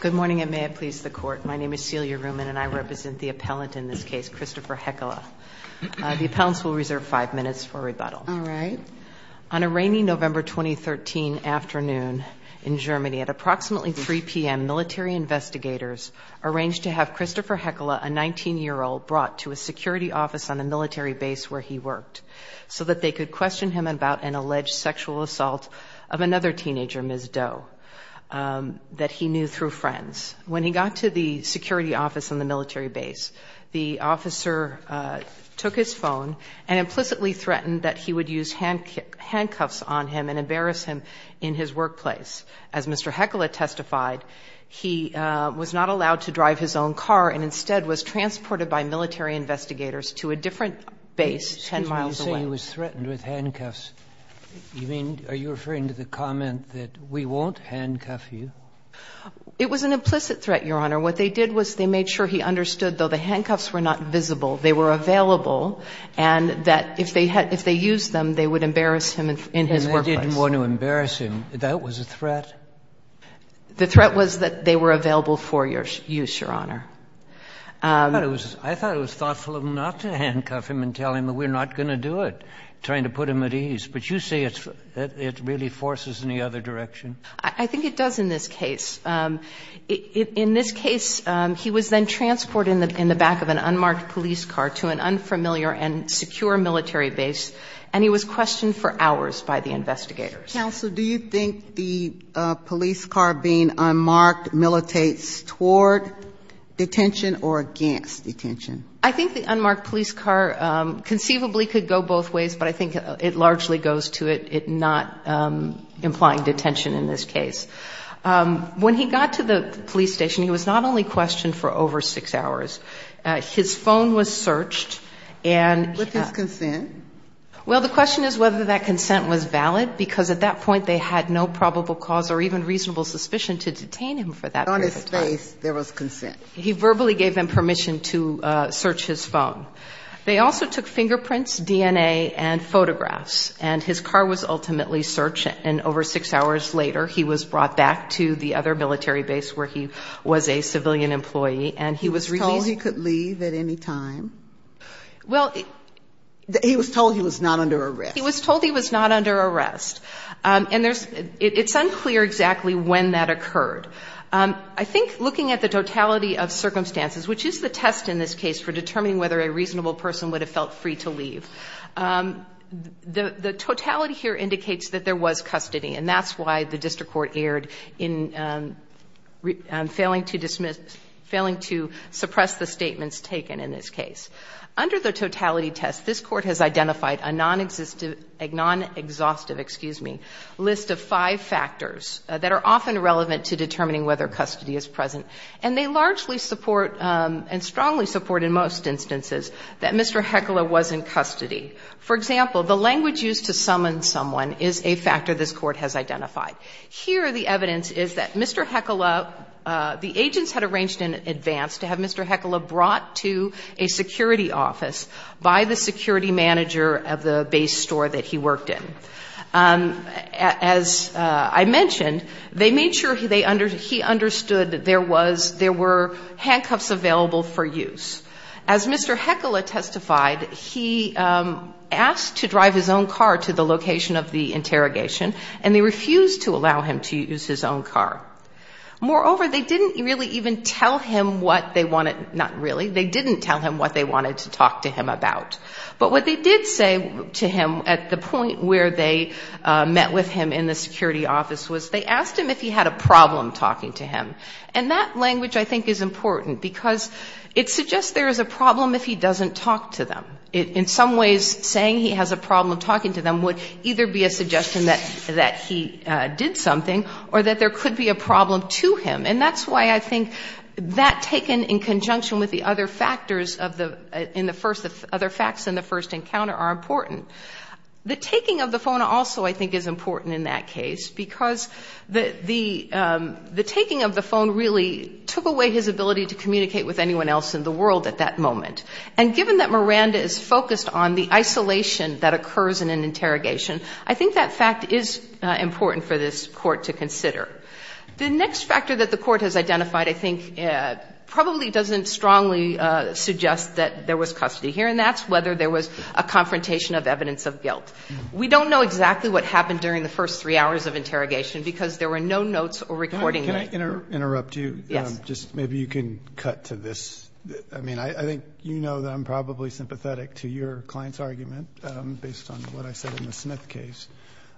Good morning, and may it please the Court. My name is Celia Reumann, and I represent the appellant in this case, Christopher Heckela. The appellants will reserve five minutes for rebuttal. All right. On a rainy November 2013 afternoon in Germany, at approximately 3 p.m., military investigators arranged to have Christopher Heckela, a 19-year-old, brought to a security office on a military base where he worked so that they could question him about an alleged sexual assault of another teenager, Ms. Doe, that he knew through friends. When he got to the security office on the military base, the officer took his phone and implicitly threatened that he would use handcuffs on him and embarrass him in his workplace. As Mr. Heckela testified, he was not allowed to drive his own car and instead was transported by military investigators to a different base 10 miles away. And he was threatened with handcuffs. You mean, are you referring to the comment that we won't handcuff you? It was an implicit threat, Your Honor. What they did was they made sure he understood, though the handcuffs were not visible, they were available, and that if they used them, they would embarrass him in his workplace. And they didn't want to embarrass him. That was a threat? The threat was that they were available for use, Your Honor. I thought it was thoughtful of them not to handcuff him and tell him that we're not going to do it, trying to put him at ease. But you say it really forces in the other direction? I think it does in this case. In this case, he was then transported in the back of an unmarked police car to an unfamiliar and secure military base, and he was questioned for hours by the investigators. Counsel, do you think the police car being unmarked militates toward detention or against detention? I think the unmarked police car conceivably could go both ways, but I think it largely goes to it not implying detention in this case. When he got to the police station, he was not only questioned for over six hours. His phone was searched. With his consent? Well, the question is whether that consent was valid, because at that point they had no probable cause or even reasonable suspicion to detain him for that period of time. On his face there was consent. He verbally gave them permission to search his phone. They also took fingerprints, DNA, and photographs, and his car was ultimately searched, and over six hours later he was brought back to the other military base where he was a civilian employee, and he was released. He was told he could leave at any time? Well, he was told he was not under arrest. He was told he was not under arrest, and it's unclear exactly when that occurred. I think looking at the totality of circumstances, which is the test in this case for determining whether a reasonable person would have felt free to leave, the totality here indicates that there was custody, and that's why the district court erred in failing to suppress the statements taken in this case. Under the totality test, this court has identified a non-exhaustive list of five factors that are often relevant to determining whether custody is present, and they largely support and strongly support in most instances that Mr. Heckler was in custody. For example, the language used to summon someone is a factor this court has identified. Here the evidence is that Mr. Heckler, the agents had arranged in advance to have Mr. Heckler brought to a security office by the security manager of the base store that he worked in. As I mentioned, they made sure he understood that there were handcuffs available for use. As Mr. Heckler testified, he asked to drive his own car to the location of the interrogation, and they refused to allow him to use his own car. Moreover, they didn't really even tell him what they wanted to talk to him about. But what they did say to him at the point where they met with him in the security office was they asked him if he had a problem talking to him. And that language I think is important, because it suggests there is a problem if he doesn't talk to them. In some ways, saying he has a problem talking to them would either be a suggestion that he did something or that there could be a problem to him. And that's why I think that taken in conjunction with the other factors in the first, the other facts in the first encounter are important. The taking of the phone also I think is important in that case, because the taking of the phone really took away his ability to communicate with anyone else in the world at that moment. And given that Miranda is focused on the isolation that occurs in an interrogation, I think that fact is important for this Court to consider. The next factor that the Court has identified, I think, probably doesn't strongly suggest that there was custody here, and that's whether there was a confrontation of evidence of guilt. We don't know exactly what happened during the first three hours of interrogation, because there were no notes or recordings. Can I interrupt you? Yes. Just maybe you can cut to this. I mean, I think you know that I'm probably sympathetic to your client's argument, based on what I said in the Smith case.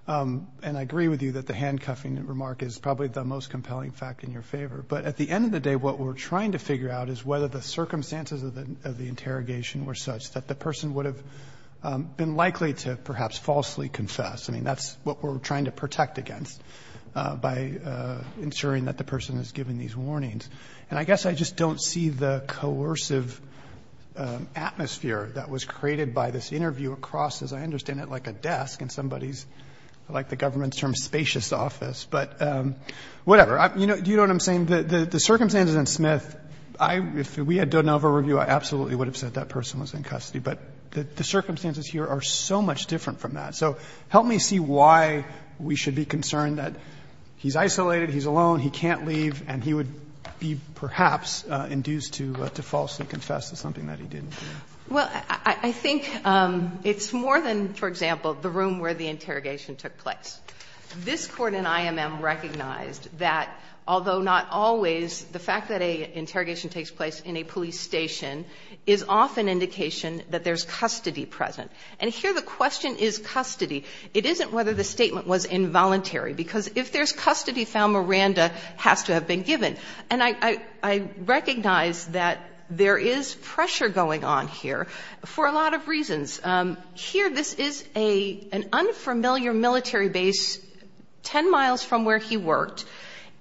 And I agree with you that the handcuffing remark is probably the most compelling fact in your favor. But at the end of the day, what we're trying to figure out is whether the circumstances of the interrogation were such that the person would have been likely to perhaps falsely confess. I mean, that's what we're trying to protect against, by ensuring that the person is given these warnings. And I guess I just don't see the coercive atmosphere that was created by this interview across, as I understand it, like a desk in somebody's, I like the government's term, spacious office. But whatever. You know what I'm saying? The circumstances in Smith, if we had done an over-review, I absolutely would have said that person was in custody. But the circumstances here are so much different from that. So help me see why we should be concerned that he's isolated, he's alone, he can't leave, and he would be perhaps induced to falsely confess to something that he didn't do. Well, I think it's more than, for example, the room where the interrogation took place. This Court in IMM recognized that, although not always, the fact that an interrogation takes place in a police station is often indication that there's custody present. And here the question is custody. It isn't whether the statement was involuntary. Because if there's custody found, Miranda has to have been given. And I recognize that there is pressure going on here for a lot of reasons. Here this is an unfamiliar military base 10 miles from where he worked.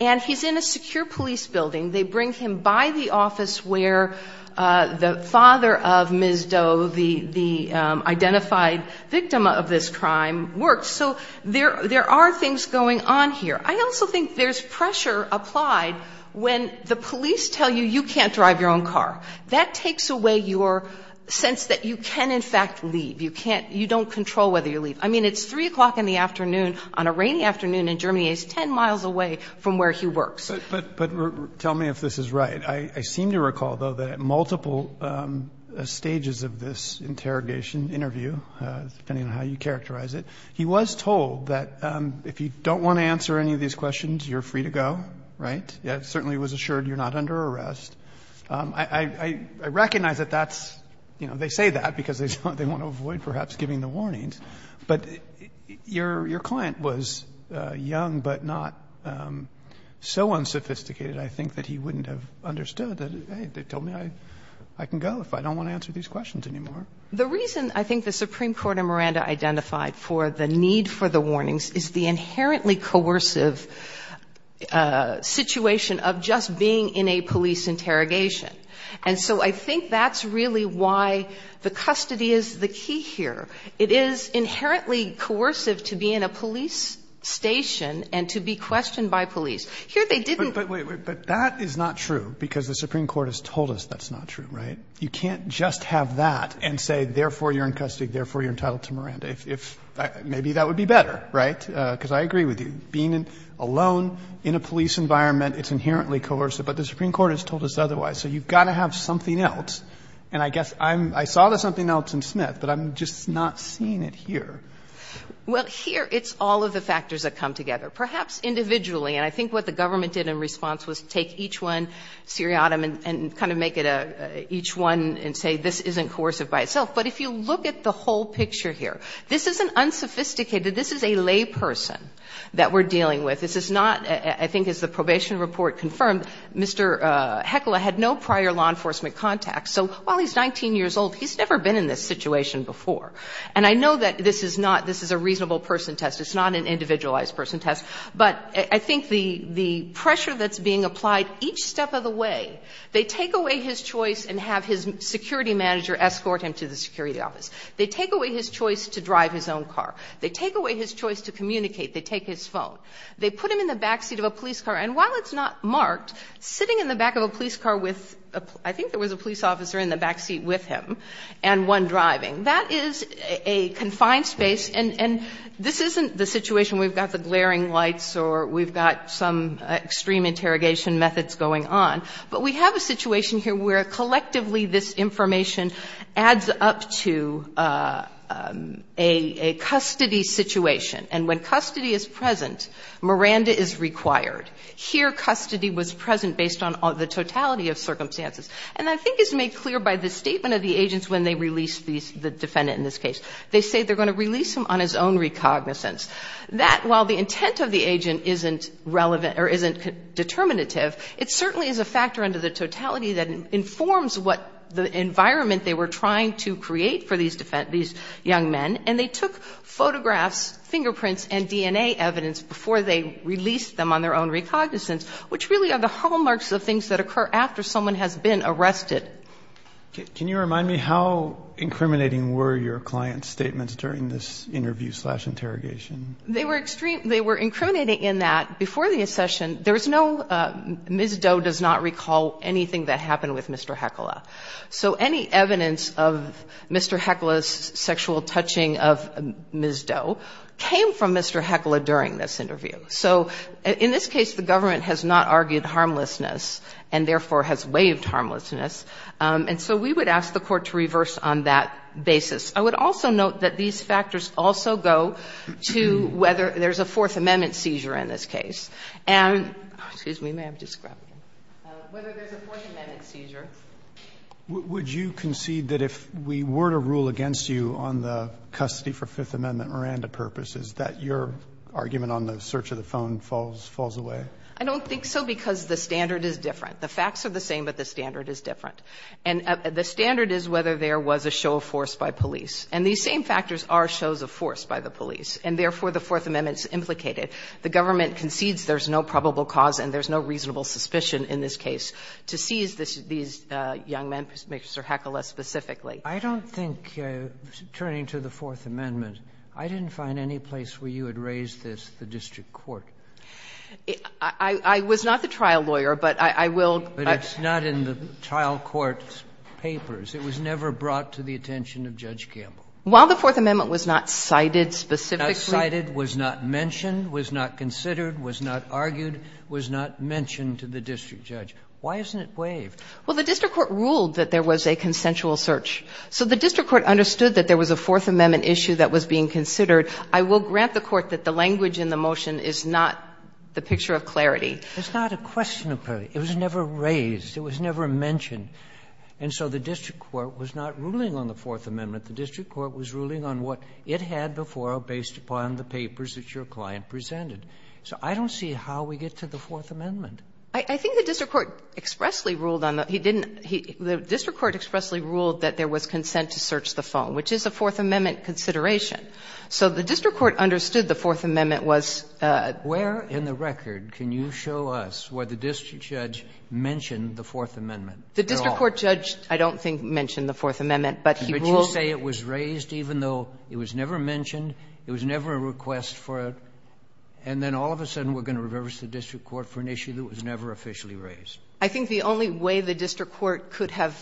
And he's in a secure police building. They bring him by the office where the father of Ms. Doe, the identified victim of this crime, works. So there are things going on here. I also think there's pressure applied when the police tell you you can't drive your own car. That takes away your sense that you can, in fact, leave. You don't control whether you leave. I mean, it's 3 o'clock in the afternoon on a rainy afternoon in Germany. He's 10 miles away from where he works. But tell me if this is right. I seem to recall, though, that at multiple stages of this interrogation, interview, depending on how you characterize it, he was told that if you don't want to answer any of these questions, you're free to go, right? He certainly was assured you're not under arrest. I recognize that that's, you know, they say that because they want to avoid perhaps giving the warnings. But your client was young but not so unsophisticated, I think, that he wouldn't have understood that, hey, they told me I can go if I don't want to answer these questions anymore. The reason I think the Supreme Court in Miranda identified for the need for the warnings is the inherently coercive situation of just being in a police interrogation. And so I think that's really why the custody is the key here. It is inherently coercive to be in a police station and to be questioned by police. Here they didn't. Roberts. But wait, wait. But that is not true because the Supreme Court has told us that's not true, right? You can't just have that and say therefore you're in custody, therefore you're entitled to Miranda. Maybe that would be better, right? Because I agree with you. Being alone in a police environment, it's inherently coercive. But the Supreme Court has told us otherwise. So you've got to have something else. And I guess I'm – I saw there's something else in Smith, but I'm just not seeing it here. Well, here it's all of the factors that come together. Perhaps individually, and I think what the government did in response was take each one seriatim and kind of make it a – each one and say this isn't coercive by itself. But if you look at the whole picture here, this isn't unsophisticated. This is a layperson that we're dealing with. This is not, I think as the probation report confirmed, Mr. Heckel had no prior law experience. So while he's 19 years old, he's never been in this situation before. And I know that this is not – this is a reasonable person test. It's not an individualized person test. But I think the pressure that's being applied each step of the way, they take away his choice and have his security manager escort him to the security office. They take away his choice to drive his own car. They take away his choice to communicate. They take his phone. They put him in the backseat of a police car. And while it's not marked, sitting in the back of a police car with – I think there was a police officer in the backseat with him and one driving. That is a confined space. And this isn't the situation we've got the glaring lights or we've got some extreme interrogation methods going on. But we have a situation here where collectively this information adds up to a custody situation. And when custody is present, Miranda is required. Here custody was present based on the totality of circumstances. And I think it's made clear by the statement of the agents when they release the defendant in this case. They say they're going to release him on his own recognizance. That, while the intent of the agent isn't relevant or isn't determinative, it certainly is a factor under the totality that informs what the environment they were trying to create for these young men. And they took photographs, fingerprints, and DNA evidence before they released them on their own recognizance, which really are the hallmarks of things that occur after someone has been arrested. Can you remind me how incriminating were your client's statements during this interview slash interrogation? They were extreme. They were incriminating in that before the accession there was no Ms. Doe does not recall anything that happened with Mr. Hecola. So any evidence of Mr. Hecola's sexual touching of Ms. Doe came from Mr. Hecola during this interview. So in this case, the government has not argued harmlessness and, therefore, has waived harmlessness. And so we would ask the Court to reverse on that basis. I would also note that these factors also go to whether there's a Fourth Amendment seizure in this case. And excuse me, ma'am, just grab me. Whether there's a Fourth Amendment seizure. Roberts, would you concede that if we were to rule against you on the custody for Fifth Amendment Miranda purposes, that your argument on the search of the phone falls away? I don't think so, because the standard is different. The facts are the same, but the standard is different. And the standard is whether there was a show of force by police. And these same factors are shows of force by the police, and, therefore, the Fourth Amendment is implicated. The government concedes there's no probable cause and there's no reasonable suspicion in this case to seize these young men, Mr. Hecola specifically. I don't think, turning to the Fourth Amendment, I didn't find any place where you had raised this the district court. I was not the trial lawyer, but I will. But it's not in the trial court's papers. It was never brought to the attention of Judge Campbell. While the Fourth Amendment was not cited specifically. Not cited, was not mentioned, was not considered, was not argued, was not mentioned to the district judge. Why isn't it waived? Well, the district court ruled that there was a consensual search. So the district court understood that there was a Fourth Amendment issue that was being considered. I will grant the court that the language in the motion is not the picture of clarity. It's not a question of clarity. It was never raised. It was never mentioned. And so the district court was not ruling on the Fourth Amendment. The district court was ruling on what it had before based upon the papers that your client presented. So I don't see how we get to the Fourth Amendment. I think the district court expressly ruled on the – he didn't – the district court expressly ruled that there was consent to search the phone, which is a Fourth Amendment consideration. So the district court understood the Fourth Amendment was – Where in the record can you show us where the district judge mentioned the Fourth Amendment at all? The district court judge, I don't think, mentioned the Fourth Amendment, but he ruled – But you say it was raised even though it was never mentioned, it was never a request for it, and then all of a sudden we're going to reverse the district court for an issue that was never officially raised. I think the only way the district court could have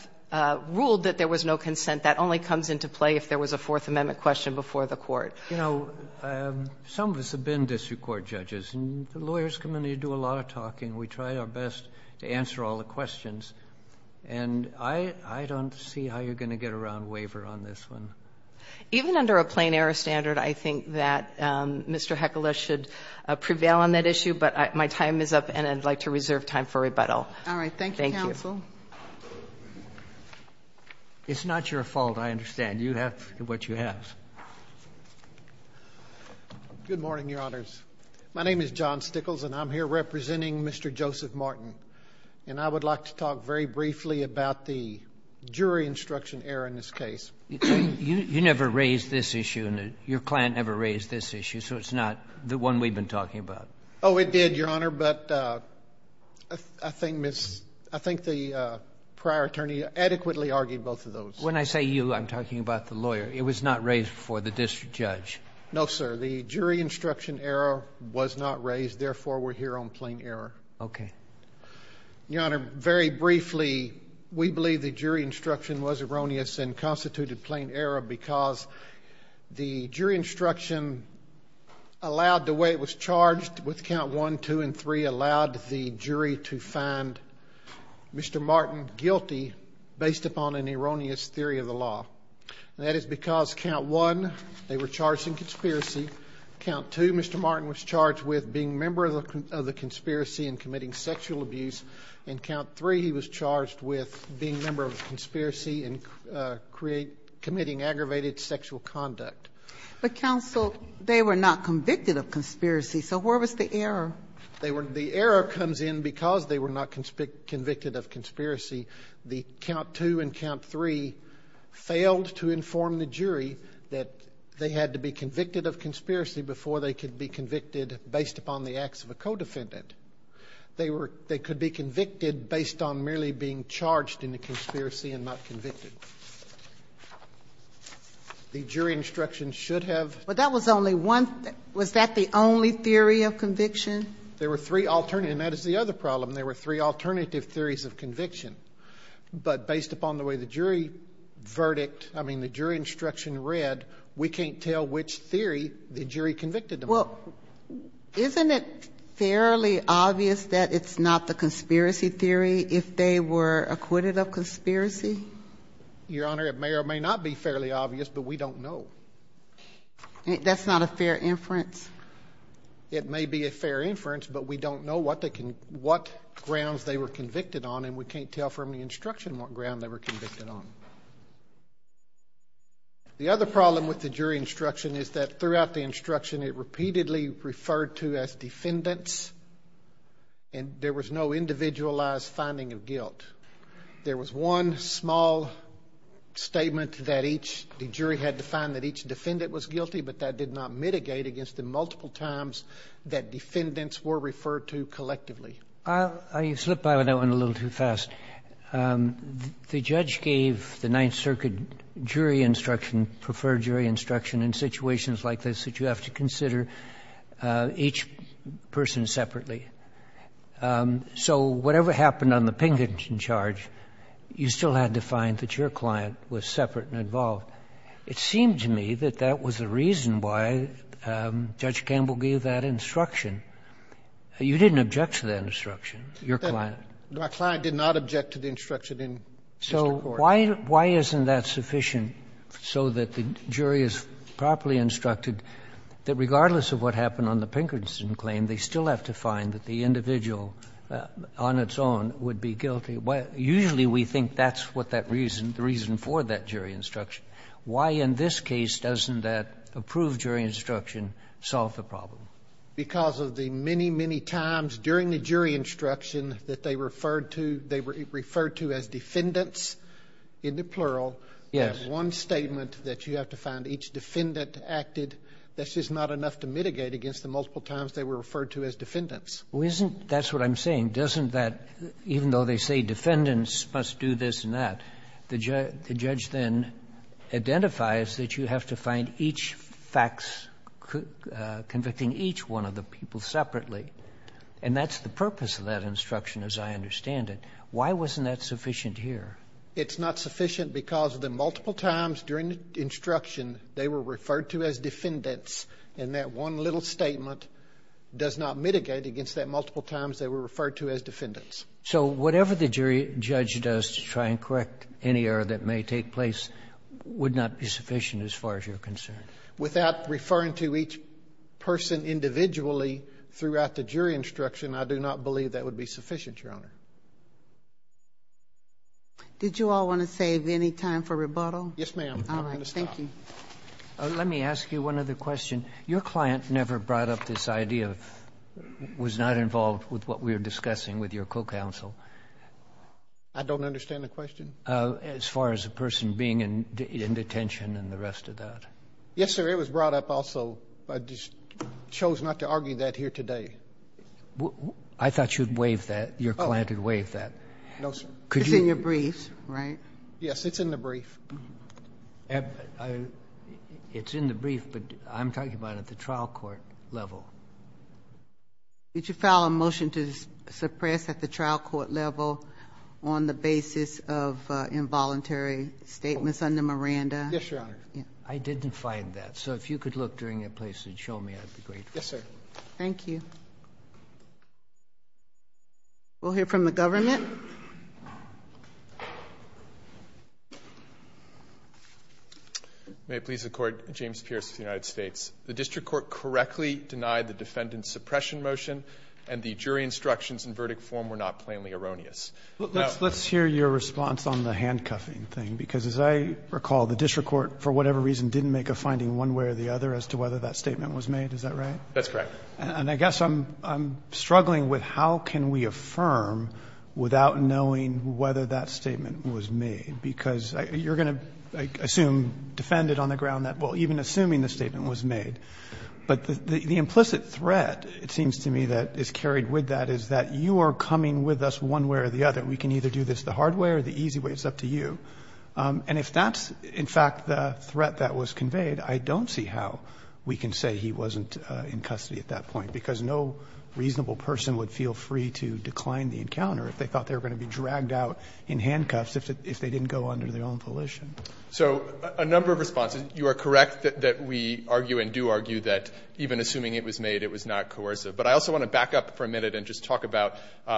ruled that there was no consent, that only comes into play if there was a Fourth Amendment question before the court. You know, some of us have been district court judges, and the lawyers community do a lot of talking. We try our best to answer all the questions. And I don't see how you're going to get around waiver on this one. Even under a plain error standard, I think that Mr. Heckelish should prevail on that issue. But my time is up, and I'd like to reserve time for rebuttal. Thank you. All right. Thank you, counsel. It's not your fault, I understand. You have what you have. Good morning, Your Honors. My name is John Stickles, and I'm here representing Mr. Joseph Martin. And I would like to talk very briefly about the jury instruction error in this case. You never raised this issue, and your client never raised this issue, so it's not the one we've been talking about. Oh, it did, Your Honor. But I think the prior attorney adequately argued both of those. When I say you, I'm talking about the lawyer. It was not raised before the district judge. No, sir. The jury instruction error was not raised. Therefore, we're here on plain error. Okay. Your Honor, very briefly, we believe the jury instruction was erroneous and constituted plain error because the jury instruction allowed the way it was charged with Count 1, 2, and 3 allowed the jury to find Mr. Martin guilty based upon an erroneous theory of the law. And that is because Count 1, they were charged in conspiracy. Count 2, Mr. Martin was charged with being a member of the conspiracy and committing sexual abuse. And Count 3, he was charged with being a member of the conspiracy and committing aggravated sexual conduct. But, counsel, they were not convicted of conspiracy, so where was the error? The error comes in because they were not convicted of conspiracy. Count 2 and Count 3 failed to inform the jury that they had to be convicted of conspiracy before they could be convicted based upon the acts of a co-defendant. They were they could be convicted based on merely being charged in the conspiracy and not convicted. The jury instruction should have. But that was only one thing. Was that the only theory of conviction? There were three alternative. And that is the other problem. There were three alternative theories of conviction. But based upon the way the jury verdict, I mean, the jury instruction read, we can't tell which theory the jury convicted them of. Well, isn't it fairly obvious that it's not the conspiracy theory if they were acquitted of conspiracy? Your Honor, it may or may not be fairly obvious, but we don't know. That's not a fair inference? It may be a fair inference, but we don't know what grounds they were convicted on, and we can't tell from the instruction what ground they were convicted on. The other problem with the jury instruction is that throughout the instruction, it repeatedly referred to as defendants, and there was no individualized finding of guilt. There was one small statement that each jury had to find that each defendant was guilty, but that did not mitigate against the multiple times that defendants were referred to collectively. I slipped by that one a little too fast. The judge gave the Ninth Circuit jury instruction, preferred jury instruction in situations like this that you have to consider each person separately. So whatever happened on the Pinkerton charge, you still had to find that your client was separate and involved. It seemed to me that that was the reason why Judge Campbell gave that instruction. You didn't object to that instruction, your client. My client did not object to the instruction in the Supreme Court. So why isn't that sufficient so that the jury is properly instructed that regardless of what happened on the Pinkerton claim, they still have to find that the individual on its own would be guilty? Usually we think that's what that reason, the reason for that jury instruction. Why in this case doesn't that approved jury instruction solve the problem? Because of the many, many times during the jury instruction that they referred to, they referred to as defendants in the plural. Yes. That one statement that you have to find each defendant acted, that's just not enough to mitigate against the multiple times they were referred to as defendants. Well, isn't that's what I'm saying. Doesn't that, even though they say defendants must do this and that, the judge then identifies that you have to find each facts, convicting each one of the people separately. And that's the purpose of that instruction as I understand it. Why wasn't that sufficient here? It's not sufficient because of the multiple times during the instruction they were referred to as defendants and that one little statement does not mitigate against that multiple times they were referred to as defendants. So whatever the jury judge does to try and correct any error that may take place would not be sufficient as far as you're concerned? Without referring to each person individually throughout the jury instruction, I do not believe that would be sufficient, Your Honor. Did you all want to save any time for rebuttal? Yes, ma'am. I'm going to stop. All right. Thank you. Let me ask you one other question. Your client never brought up this idea, was not involved with what we were discussing with your co-counsel. I don't understand the question. As far as the person being in detention and the rest of that. Yes, sir. It was brought up also. I just chose not to argue that here today. I thought you'd waive that, your client had waived that. No, sir. It's in your brief, right? Yes, it's in the brief. It's in the brief, but I'm talking about at the trial court level. Did you file a motion to suppress at the trial court level on the basis of involuntary statements under Miranda? Yes, Your Honor. I didn't find that. So if you could look during your place and show me, that would be great. Thank you. We'll hear from the government. May it please the Court, James Pierce of the United States. The district court correctly denied the defendant's suppression motion and the jury instructions and verdict form were not plainly erroneous. Let's hear your response on the handcuffing thing, because as I recall, the district court, for whatever reason, didn't make a finding one way or the other as to whether that statement was made. Is that right? That's correct. And I guess I'm struggling with how can we affirm without knowing whether that statement was made, because you're going to assume, defend it on the ground that, well, even assuming the statement was made. But the implicit threat, it seems to me, that is carried with that is that you are coming with us one way or the other. We can either do this the hard way or the easy way. It's up to you. And if that's, in fact, the threat that was conveyed, I don't see how we can say he wasn't in custody at that point, because no reasonable person would feel free to decline the encounter if they thought they were going to be dragged out in handcuffs if they didn't go under their own volition. So a number of responses. You are correct that we argue and do argue that even assuming it was made, it was not coercive. But I also want to back up for a minute and just talk about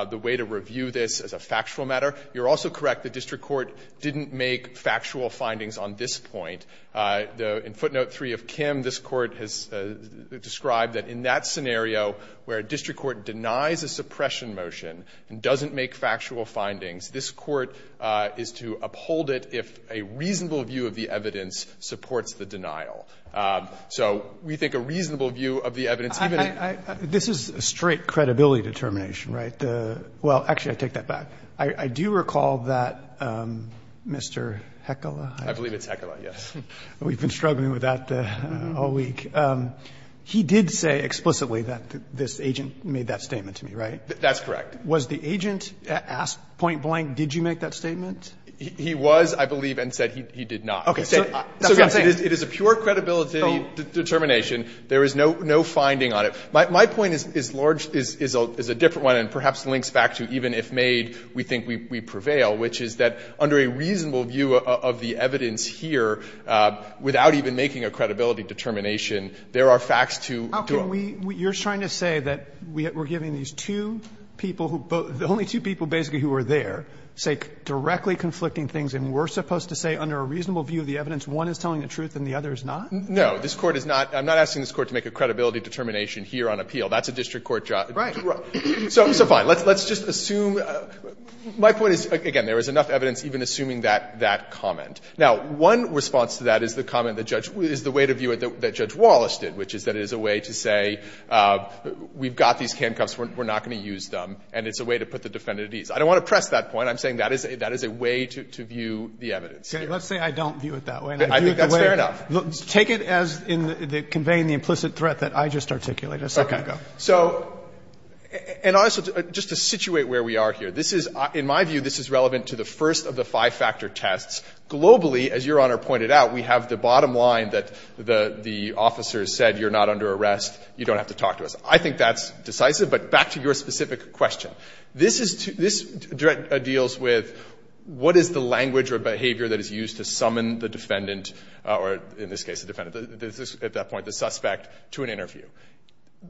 the way to review this as a factual matter. You're also correct the district court didn't make factual findings on this point. In footnote 3 of Kim, this Court has described that in that scenario where a district court denies a suppression motion and doesn't make factual findings, this Court is to uphold it if a reasonable view of the evidence supports the denial. So we think a reasonable view of the evidence, even if the evidence supports the denial. Roberts. This is a straight credibility determination, right? Well, actually, I take that back. I do recall that Mr. Heckela. I believe it's Heckela, yes. We've been struggling with that all week. He did say explicitly that this agent made that statement to me, right? That's correct. Was the agent asked point blank, did you make that statement? He was, I believe, and said he did not. Okay. So, yes, it is a pure credibility determination. There is no finding on it. My point is large, is a different one and perhaps links back to even if made, we think we prevail, which is that under a reasonable view of the evidence here, without even making a credibility determination, there are facts to do it. You're trying to say that we're giving these two people, the only two people basically who are there, say directly conflicting things and we're supposed to say under a reasonable view of the evidence one is telling the truth and the other is not? No. This Court is not. I'm not asking this Court to make a credibility determination here on appeal. That's a district court job. Right. So fine. Let's just assume. My point is, again, there is enough evidence even assuming that comment. Now, one response to that is the comment that Judge — is the way to view it that Judge Wallace did, which is that it is a way to say we've got these handcuffs, we're not going to use them, and it's a way to put the defendant at ease. I don't want to press that point. I'm saying that is a way to view the evidence here. Okay. Let's say I don't view it that way. I think that's fair enough. Take it as conveying the implicit threat that I just articulated a second ago. So — and also just to situate where we are here. This is — in my view, this is relevant to the first of the five-factor tests. Globally, as Your Honor pointed out, we have the bottom line that the officer said you're not under arrest, you don't have to talk to us. I think that's decisive. But back to your specific question. This is — this deals with what is the language or behavior that is used to summon the defendant, or in this case the defendant, at that point the suspect, to an interview.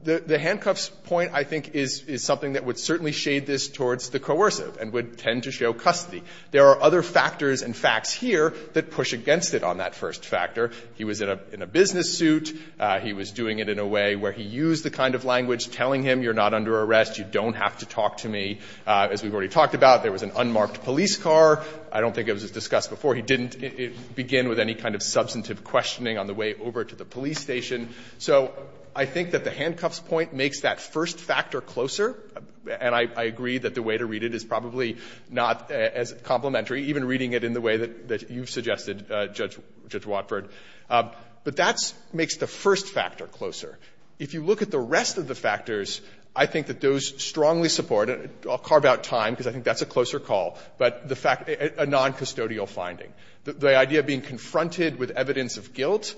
The handcuffs point, I think, is something that would certainly shade this towards the coercive and would tend to show custody. There are other factors and facts here that push against it on that first factor. He was in a business suit. He was doing it in a way where he used the kind of language telling him you're not under arrest, you don't have to talk to me. As we've already talked about, there was an unmarked police car. I don't think it was discussed before. He didn't begin with any kind of substantive questioning on the way over to the police So I think that the handcuffs point makes that first factor closer. And I agree that the way to read it is probably not as complementary, even reading it in the way that you've suggested, Judge Watford. But that makes the first factor closer. If you look at the rest of the factors, I think that those strongly support, and I'll carve out time because I think that's a closer call, but the fact — a noncustodial finding. The idea of being confronted with evidence of guilt,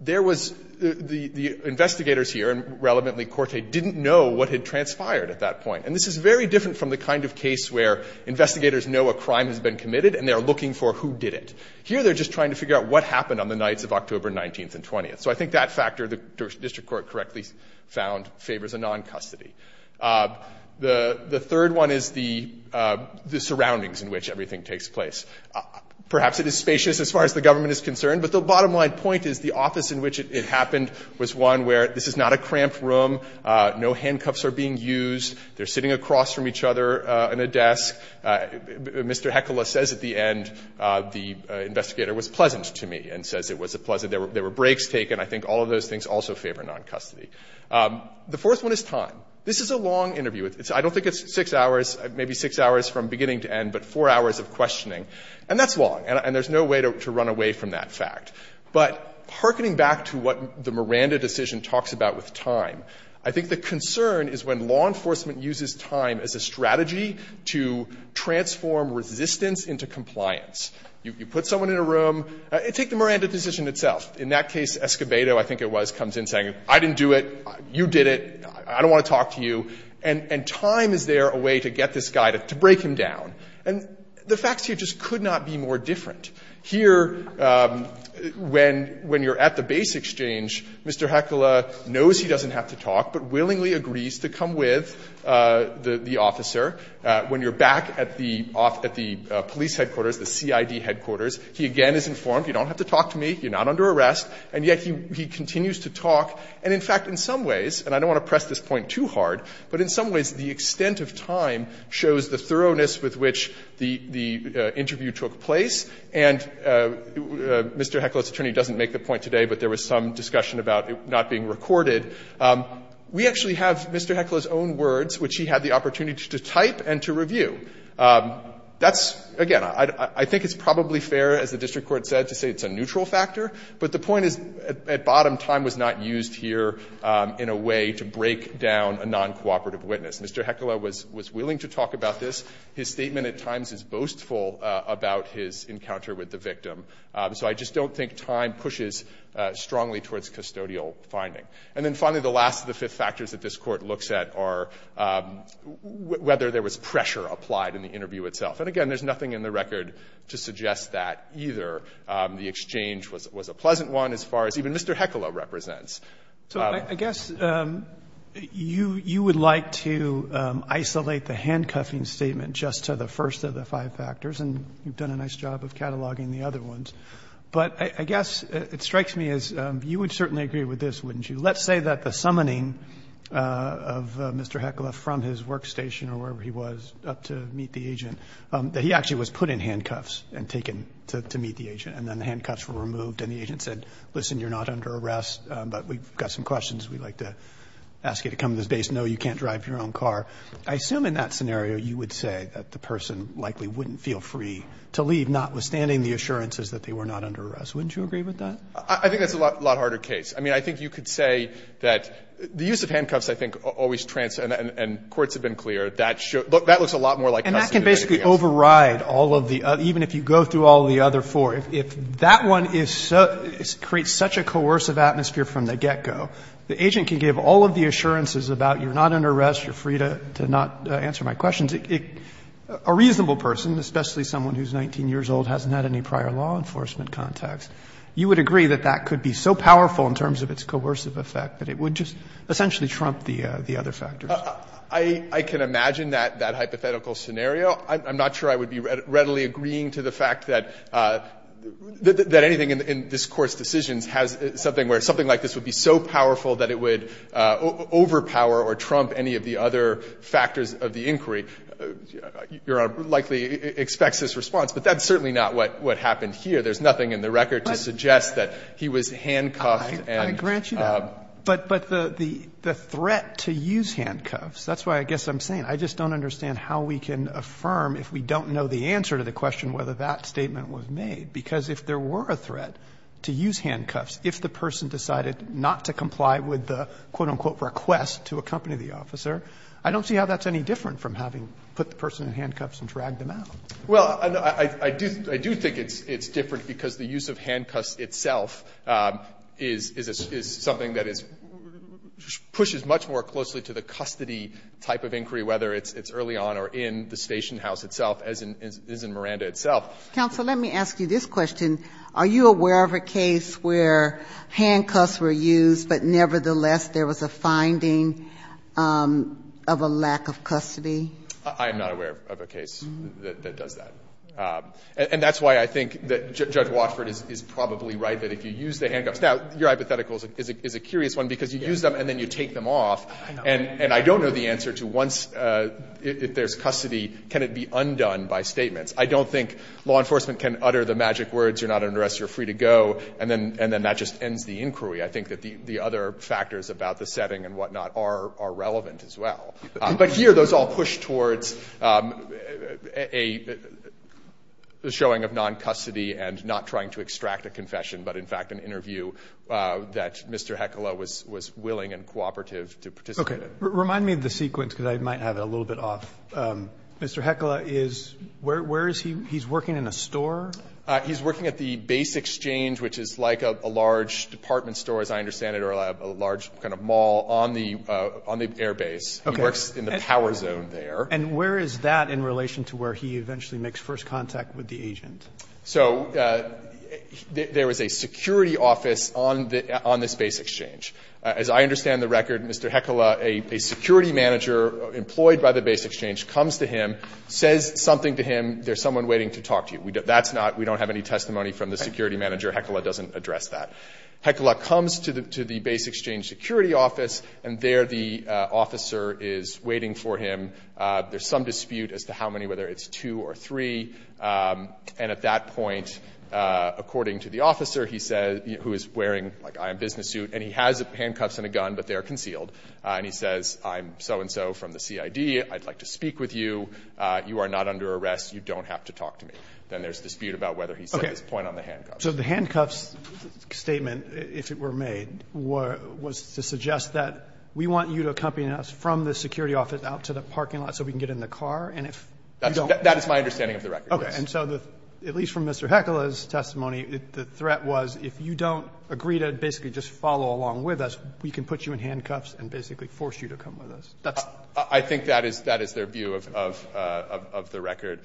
there was — the investigators here, and relevantly Corte, didn't know what had transpired at that point. And this is very different from the kind of case where investigators know a crime has been committed and they're looking for who did it. Here they're just trying to figure out what happened on the nights of October 19th and 20th. So I think that factor, the district court correctly found, favors a noncustody. The third one is the surroundings in which everything takes place. Perhaps it is spacious as far as the government is concerned, but the bottom line point is the office in which it happened was one where this is not a cramped room. No handcuffs are being used. They're sitting across from each other in a desk. Mr. Hecola says at the end, the investigator was pleasant to me and says it was pleasant. There were breaks taken. I think all of those things also favor noncustody. The fourth one is time. This is a long interview. I don't think it's 6 hours, maybe 6 hours from beginning to end, but 4 hours of questioning. And that's long. And there's no way to run away from that fact. But hearkening back to what the Miranda decision talks about with time, I think the concern is when law enforcement uses time as a strategy to transform resistance into compliance. You put someone in a room. Take the Miranda decision itself. In that case, Escobedo, I think it was, comes in saying, I didn't do it. You did it. I don't want to talk to you. And time is there a way to get this guy, to break him down. And the facts here just could not be more different. Here, when you're at the base exchange, Mr. Hakula knows he doesn't have to talk, but willingly agrees to come with the officer. When you're back at the police headquarters, the CID headquarters, he again is informed, you don't have to talk to me. You're not under arrest. And yet he continues to talk. And in fact, in some ways, and I don't want to press this point too hard, but in some ways, the extent of time shows the thoroughness with which the interview took place. And Mr. Hakula's attorney doesn't make the point today, but there was some discussion about it not being recorded. We actually have Mr. Hakula's own words, which he had the opportunity to type and to review. That's, again, I think it's probably fair, as the district court said, to say it's a neutral factor. But the point is, at bottom, time was not used here in a way to break down a non-cooperative case. Mr. Hakula was willing to talk about this. His statement at times is boastful about his encounter with the victim. So I just don't think time pushes strongly towards custodial finding. And then finally, the last of the fifth factors that this Court looks at are whether there was pressure applied in the interview itself. And again, there's nothing in the record to suggest that either. The exchange was a pleasant one as far as even Mr. Hakula represents. Roberts. So I guess you would like to isolate the handcuffing statement just to the first of the five factors, and you've done a nice job of cataloging the other ones. But I guess it strikes me as you would certainly agree with this, wouldn't you? Let's say that the summoning of Mr. Hakula from his workstation or wherever he was up to meet the agent, that he actually was put in handcuffs and taken to meet the agent, and then the handcuffs were removed and the agent said, listen, you're not under arrest, but we've got some questions. We'd like to ask you to come to this base. No, you can't drive your own car. I assume in that scenario you would say that the person likely wouldn't feel free to leave, notwithstanding the assurances that they were not under arrest. Wouldn't you agree with that? I think that's a lot harder case. I mean, I think you could say that the use of handcuffs, I think, always transcends and courts have been clear. That looks a lot more like custody than anything else. And that can basically override all of the other, even if you go through all of the other four. If that one creates such a coercive atmosphere from the get-go, the agent can give all of the assurances about you're not under arrest, you're free to not answer my questions. A reasonable person, especially someone who's 19 years old, hasn't had any prior law enforcement contacts, you would agree that that could be so powerful in terms of its coercive effect that it would just essentially trump the other factors. I can imagine that hypothetical scenario. I'm not sure I would be readily agreeing to the fact that anything in this Court's decisions has something where something like this would be so powerful that it would overpower or trump any of the other factors of the inquiry. Your Honor likely expects this response. But that's certainly not what happened here. There's nothing in the record to suggest that he was handcuffed. I grant you that. But the threat to use handcuffs, that's why I guess I'm saying, I just don't understand how we can affirm, if we don't know the answer to the question, whether that statement was made, because if there were a threat to use handcuffs, if the person decided not to comply with the, quote-unquote, request to accompany the officer, I don't see how that's any different from having put the person in handcuffs and dragged them out. Well, I do think it's different, because the use of handcuffs itself is something that is, pushes much more closely to the custody type of inquiry, whether it's early on or in the station house itself, as is in Miranda itself. Counsel, let me ask you this question. Are you aware of a case where handcuffs were used, but nevertheless there was a finding of a lack of custody? I am not aware of a case that does that. And that's why I think that Judge Watford is probably right, that if you use the handcuffs – now, your hypothetical is a curious one, because you use them and then you take them off, and I don't know the answer to once, if there's custody, can it be undone by statements. I don't think law enforcement can utter the magic words, you're not under arrest, you're free to go, and then that just ends the inquiry. I think that the other factors about the setting and whatnot are relevant as well. But here, those all push towards a – a showing of non-custody and not trying to extract a confession, but in fact an interview that Mr. Heckela was – was willing and cooperative to participate in. Okay. Remind me of the sequence, because I might have it a little bit off. Mr. Heckela is – where is he? He's working in a store? He's working at the Base Exchange, which is like a large department store, as I understand it, or a large kind of mall on the – on the airbase. Okay. He works in the power zone there. And where is that in relation to where he eventually makes first contact with the agent? So there is a security office on the – on this Base Exchange. As I understand the record, Mr. Heckela, a security manager employed by the Base Exchange comes to him, says something to him, there's someone waiting to talk to you. That's not – we don't have any testimony from the security manager. Okay. Heckela doesn't address that. Heckela comes to the – to the Base Exchange security office, and there the officer is waiting for him. There's some dispute as to how many, whether it's two or three. And at that point, according to the officer, he says – who is wearing, like, a business suit, and he has handcuffs and a gun, but they are concealed. And he says, I'm so-and-so from the CID. I'd like to speak with you. You are not under arrest. You don't have to talk to me. Then there's dispute about whether he set his point on the handcuffs. Roberts' statement, if it were made, was to suggest that we want you to accompany us from the security office out to the parking lot so we can get in the car, and if you don't – That is my understanding of the record, yes. Okay. And so the – at least from Mr. Heckela's testimony, the threat was if you don't agree to basically just follow along with us, we can put you in handcuffs and basically force you to come with us. That's – I think that is – that is their view of the record.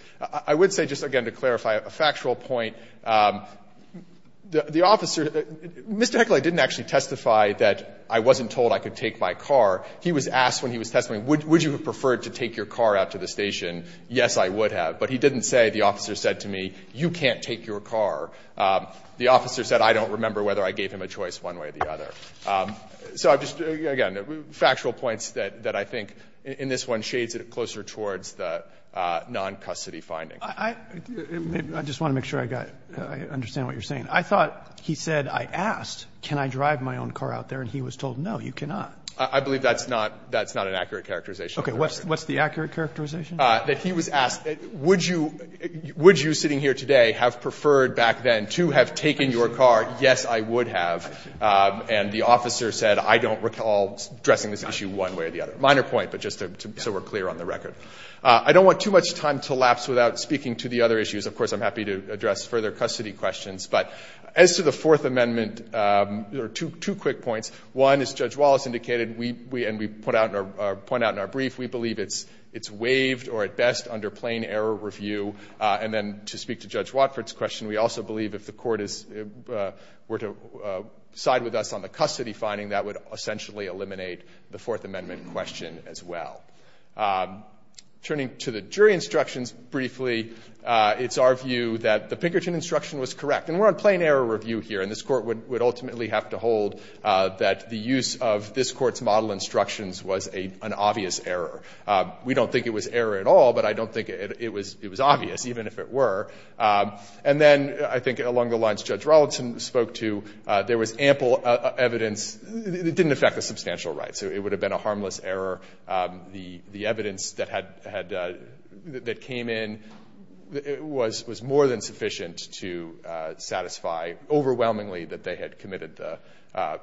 I would say, just again to clarify, a factual point, the officer – Mr. Heckela didn't actually testify that I wasn't told I could take my car. He was asked when he was testifying, would you have preferred to take your car out to the station? Yes, I would have. But he didn't say, the officer said to me, you can't take your car. The officer said, I don't remember whether I gave him a choice one way or the other. So I'm just – again, factual points that I think in this one shades it closer towards the non-custody finding. I just want to make sure I got – I understand what you're saying. I thought he said I asked, can I drive my own car out there, and he was told, no, you cannot. I believe that's not – that's not an accurate characterization. Okay. What's the accurate characterization? That he was asked, would you – would you sitting here today have preferred back then to have taken your car? Yes, I would have. And the officer said, I don't recall addressing this issue one way or the other. Minor point, but just so we're clear on the record. I don't want too much time to lapse without speaking to the other issues. Of course, I'm happy to address further custody questions. But as to the Fourth Amendment, there are two quick points. One, as Judge Wallace indicated, we – and we put out in our – point out in our brief, we believe it's waived or at best under plain error review. And then to speak to Judge Watford's question, we also believe if the court is – were to side with us on the custody finding, that would essentially eliminate the Fourth Amendment question as well. Turning to the jury instructions briefly, it's our view that the Pinkerton instruction was correct. And we're on plain error review here. And this Court would – would ultimately have to hold that the use of this Court's model instructions was a – an obvious error. We don't think it was error at all, but I don't think it was – it was obvious, even if it were. And then I think along the lines Judge Rollinson spoke to, there was ample evidence – it didn't affect the substantial rights. It would have been a harmless error. The – the evidence that had – that came in was more than sufficient to satisfy overwhelmingly that they had committed the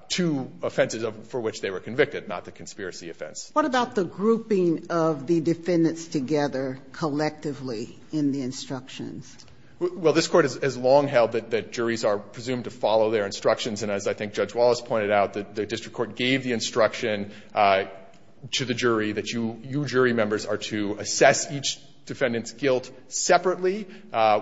two offenses for which they were convicted, not the conspiracy offense. What about the grouping of the defendants together collectively in the instructions? Well, this Court has long held that juries are presumed to follow their instructions. And as I think Judge Wallace pointed out, the district court gave the instruction to the jury that you – you jury members are to assess each defendant's guilt separately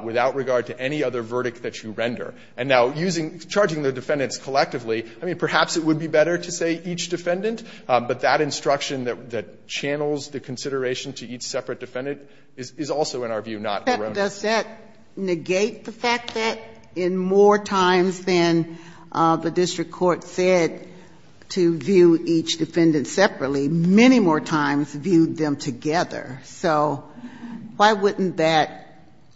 without regard to any other verdict that you render. And now using – charging the defendants collectively, I mean, perhaps it would be better to say each defendant, but that instruction that – that channels the consideration to each separate defendant is also, in our view, not erroneous. But does that negate the fact that in more times than the district court said to view each defendant separately, many more times viewed them together? So why wouldn't that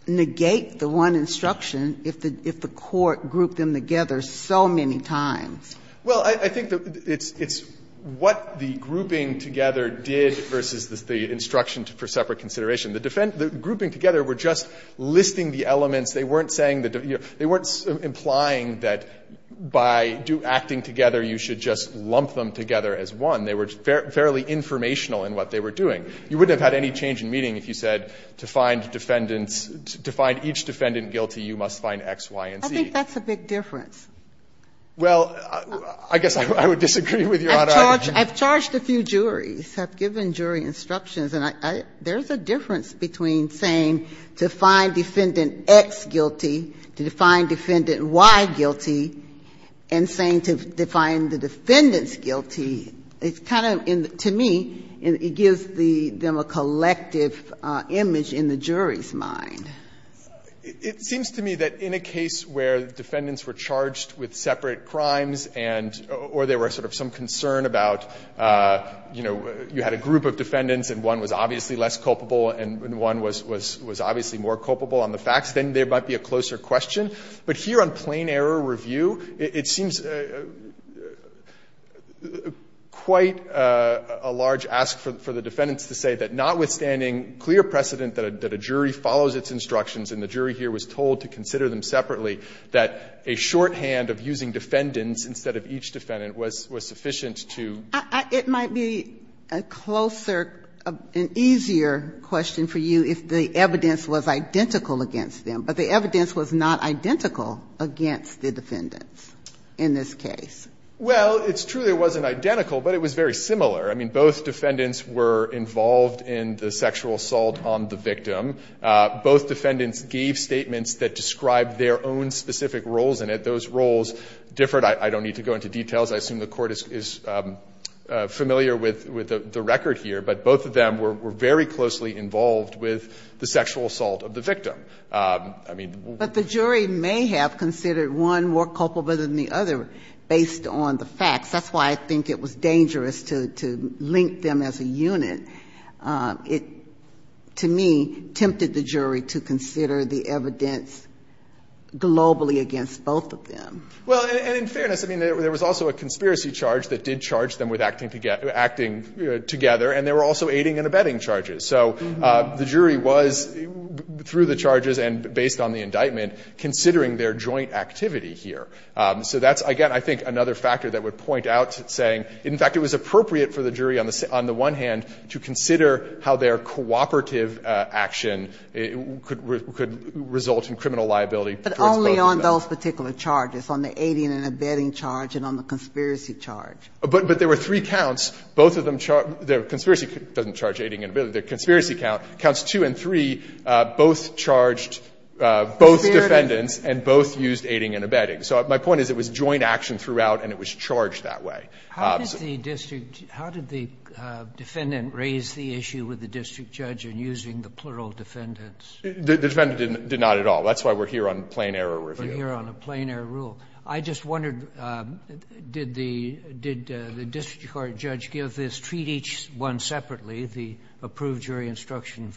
negate the one instruction if the – if the court grouped them together so many times? Well, I think that it's – it's what the grouping together did versus the instruction for separate consideration. The grouping together were just listing the elements. They weren't saying the – they weren't implying that by acting together you should just lump them together as one. They were fairly informational in what they were doing. You wouldn't have had any change in meaning if you said to find defendants – to find each defendant guilty, you must find X, Y, and Z. I think that's a big difference. Well, I guess I would disagree with Your Honor. I've charged a few juries, have given jury instructions, and I – there's a difference between saying to find defendant X guilty, to define defendant Y guilty, and saying to define the defendants guilty. It's kind of in the – to me, it gives the – them a collective image in the jury's mind. It seems to me that in a case where defendants were charged with separate crimes and – or there were sort of some concern about, you know, you had a group of defendants and one was obviously less culpable and one was obviously more culpable on the facts, then there might be a closer question. But here on plain error review, it seems quite a large ask for the defendants to say that notwithstanding clear precedent that a jury follows its instructions and the jury here was told to consider them separately, that a shorthand of using defendants instead of each defendant was sufficient to – An easier question for you, if the evidence was identical against them. But the evidence was not identical against the defendants in this case. Well, it's true it wasn't identical, but it was very similar. I mean, both defendants were involved in the sexual assault on the victim. Both defendants gave statements that described their own specific roles in it. Those roles differed. I don't need to go into details. I assume the Court is familiar with the record here, but both of them were very closely involved with the sexual assault of the victim. I mean, we'll go into that. But the jury may have considered one more culpable than the other based on the facts. That's why I think it was dangerous to link them as a unit. It, to me, tempted the jury to consider the evidence globally against both of them. Well, and in fairness, I mean, there was also a conspiracy charge that did charge them with acting together, and they were also aiding and abetting charges. So the jury was, through the charges and based on the indictment, considering their joint activity here. So that's, again, I think another factor that would point out saying, in fact, it was appropriate for the jury on the one hand to consider how their cooperative action could result in criminal liability towards both of them. And on those particular charges, on the aiding and abetting charge and on the conspiracy charge. But there were three counts. Both of them charge the conspiracy doesn't charge aiding and abetting. The conspiracy count, counts 2 and 3, both charged both defendants and both used aiding and abetting. So my point is it was joint action throughout and it was charged that way. How did the district, how did the defendant raise the issue with the district judge in using the plural defendants? The defendant did not at all. That's why we're here on plain error review. We're here on a plain error rule. I just wondered, did the district court judge give this, treat each one separately, the approved jury instruction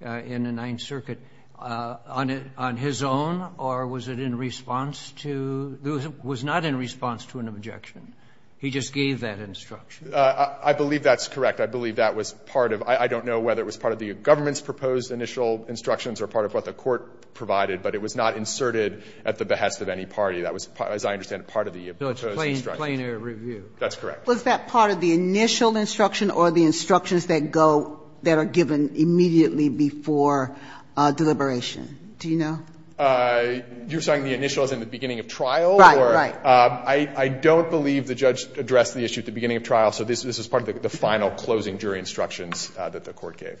in the Ninth Circuit, on his own or was it in response to, was not in response to an objection? He just gave that instruction. I believe that's correct. I believe that was part of, I don't know whether it was part of the government's proposed initial instructions or part of what the court provided, but it was not inserted at the behest of any party. That was, as I understand it, part of the proposed instructions. So it's plain error review. That's correct. Was that part of the initial instruction or the instructions that go, that are given immediately before deliberation? Do you know? You're saying the initial is in the beginning of trial? Right, right. I don't believe the judge addressed the issue at the beginning of trial, so this was part of the final closing jury instructions that the court gave.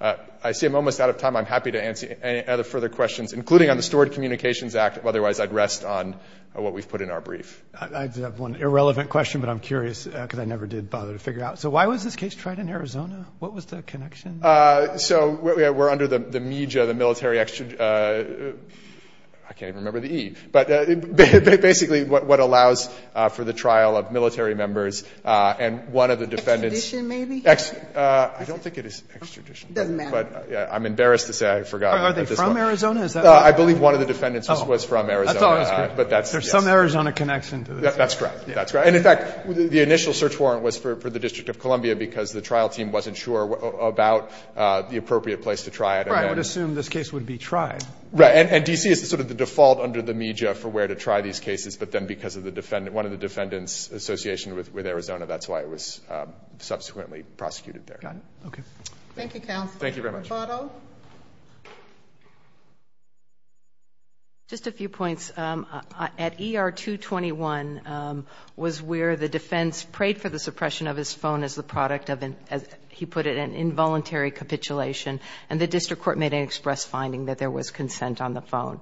I see I'm almost out of time. I'm happy to answer any other further questions, including on the Stored Communications Act. Otherwise, I'd rest on what we've put in our brief. I have one irrelevant question, but I'm curious because I never did bother to figure out. So why was this case tried in Arizona? What was the connection? So we're under the MEJA, the military, I can't even remember the E, but basically what allows for the trial of military members and one of the defendants. Extradition maybe? I don't think it is extradition. It doesn't matter. But I'm embarrassed to say I forgot. Are they from Arizona? I believe one of the defendants was from Arizona, but that's. There's some Arizona connection to this. That's correct, that's correct. And in fact, the initial search warrant was for the District of Columbia because the trial team wasn't sure about the appropriate place to try it. I would assume this case would be tried. Right, and D.C. is sort of the default under the MEJA for where to try these cases, but then because of one of the defendants' association with Arizona, that's why it was subsequently prosecuted there. Got it, okay. Thank you, counsel. Thank you very much. Roboto? Just a few points. At ER 221 was where the defense prayed for the suppression of his phone as the product of, as he put it, an involuntary capitulation and the district court made an express finding that there was consent on the phone.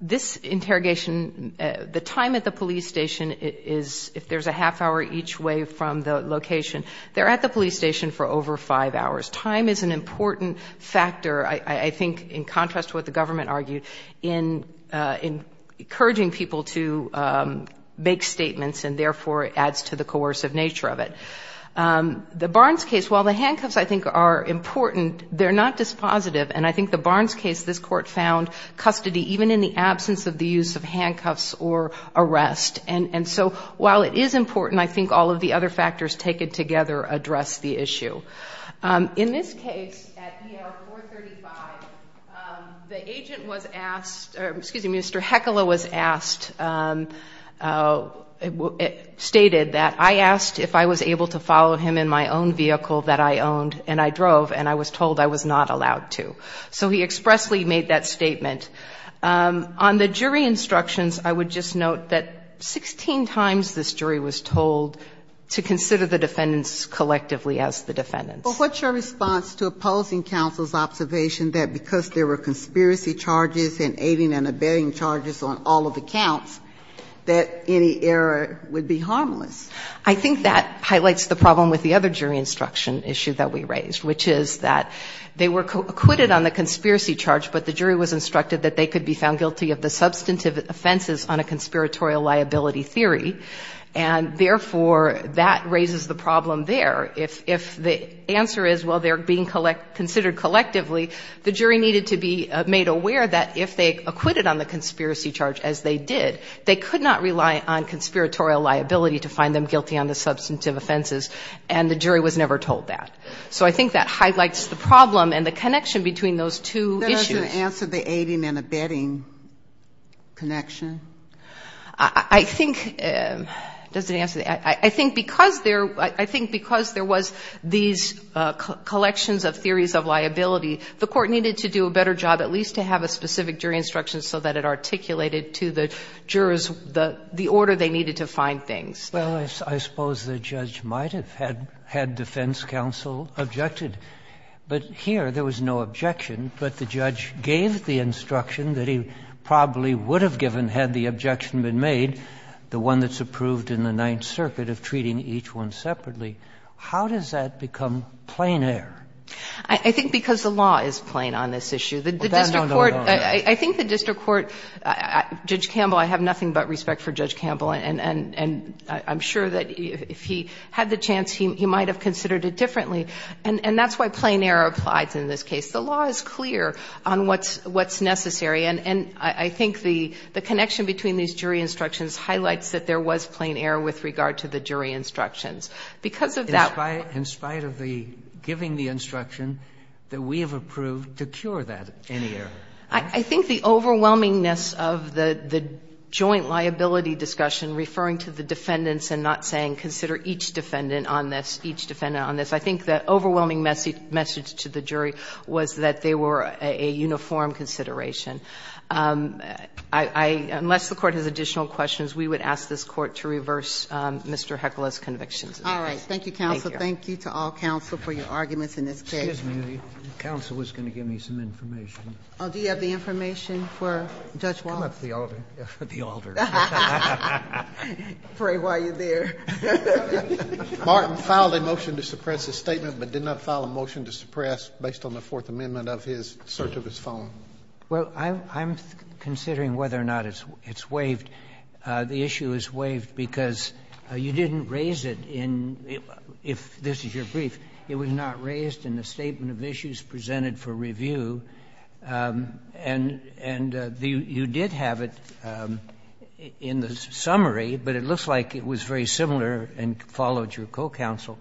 This interrogation, the time at the police station is, if there's a half hour each way from the location, they're at the police station for over five hours. Time is an important factor, I think, in contrast to what the government argued, in encouraging people to make statements and therefore, it adds to the coercive nature of it. The Barnes case, while the handcuffs, I think, are important, they're not dispositive. And I think the Barnes case, this court found custody even in the absence of the use of handcuffs or arrest. And so, while it is important, I think all of the other factors taken together address the issue. In this case, at ER 435, the agent was asked, excuse me, Mr. Hecola was asked, stated that, I asked if I was able to follow him in my own vehicle that I owned and I drove and I was told I was not allowed to. So he expressly made that statement. On the jury instructions, I would just note that 16 times this jury was told to consider the defendants collectively as the defendants. But what's your response to opposing counsel's observation that because there were conspiracy charges and aiding and abetting charges on all of the counts, that any error would be harmless? I think that highlights the problem with the other jury instruction issue that we raised, which is that they were acquitted on the conspiracy charge, but the jury was instructed that they could be found guilty of the substantive offenses on a conspiratorial liability theory. And therefore, that raises the problem there. If the answer is, well, they're being considered collectively, the jury needed to be made aware that if they acquitted on the conspiracy charge as they did, they could not rely on conspiratorial liability to find them guilty on the substantive offenses, and the jury was never told that. So I think that highlights the problem and the connection between those two issues. Are you going to answer the aiding and abetting connection? I think the answer is, I think because there was these collections of theories of liability, the Court needed to do a better job at least to have a specific jury instruction so that it articulated to the jurors the order they needed to find things. Well, I suppose the judge might have had defense counsel objected. But here, there was no objection, but the judge gave the instruction that he probably would have given had the objection been made, the one that's approved in the Ninth Circuit of treating each one separately. How does that become plain air? I think because the law is plain on this issue. The district court, I think the district court, Judge Campbell, I have nothing but respect for Judge Campbell, and I'm sure that if he had the chance, he might have considered it differently. And that's why plain air applies in this case. The law is clear on what's necessary. And I think the connection between these jury instructions highlights that there was plain air with regard to the jury instructions. Because of that law. In spite of the giving the instruction that we have approved to cure that, any error? I think the overwhelmingness of the joint liability discussion, referring to the defendants and not saying consider each defendant on this, each defendant on this, I think the overwhelming message to the jury was that they were a uniform consideration. Unless the Court has additional questions, we would ask this Court to reverse Mr. Heckel's convictions. All right. Thank you, counsel. Thank you to all counsel for your arguments in this case. Excuse me. The counsel was going to give me some information. Do you have the information for Judge Walton? Come up to the altar. The altar. Pray while you're there. Martin filed a motion to suppress his statement, but did not file a motion to suppress based on the Fourth Amendment of his search of his phone. Well, I'm considering whether or not it's waived. The issue is waived because you didn't raise it in the – if this is your brief, it was not raised in the statement of issues presented for review. And you did have it in the summary, but it looks like it was very similar and followed your co-counsel.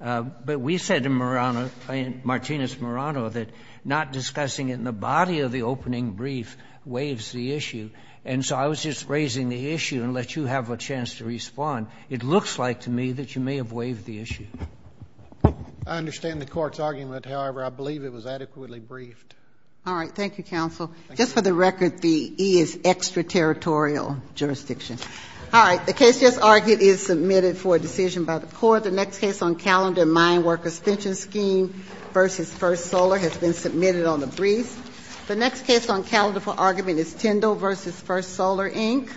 But we said in Marano, in Martinez-Marano, that not discussing it in the body of the opening brief waives the issue. And so I was just raising the issue and let you have a chance to respond. It looks like to me that you may have waived the issue. I understand the Court's argument. However, I believe it was adequately briefed. All right. Thank you, counsel. Just for the record, the E is extraterritorial jurisdiction. All right. The case just argued is submitted for a decision by the Court. The next case on calendar, Mineworkers Pension Scheme v. First Solar, has been submitted on the brief. The next case on calendar for argument is Tyndall v. First Solar, Inc.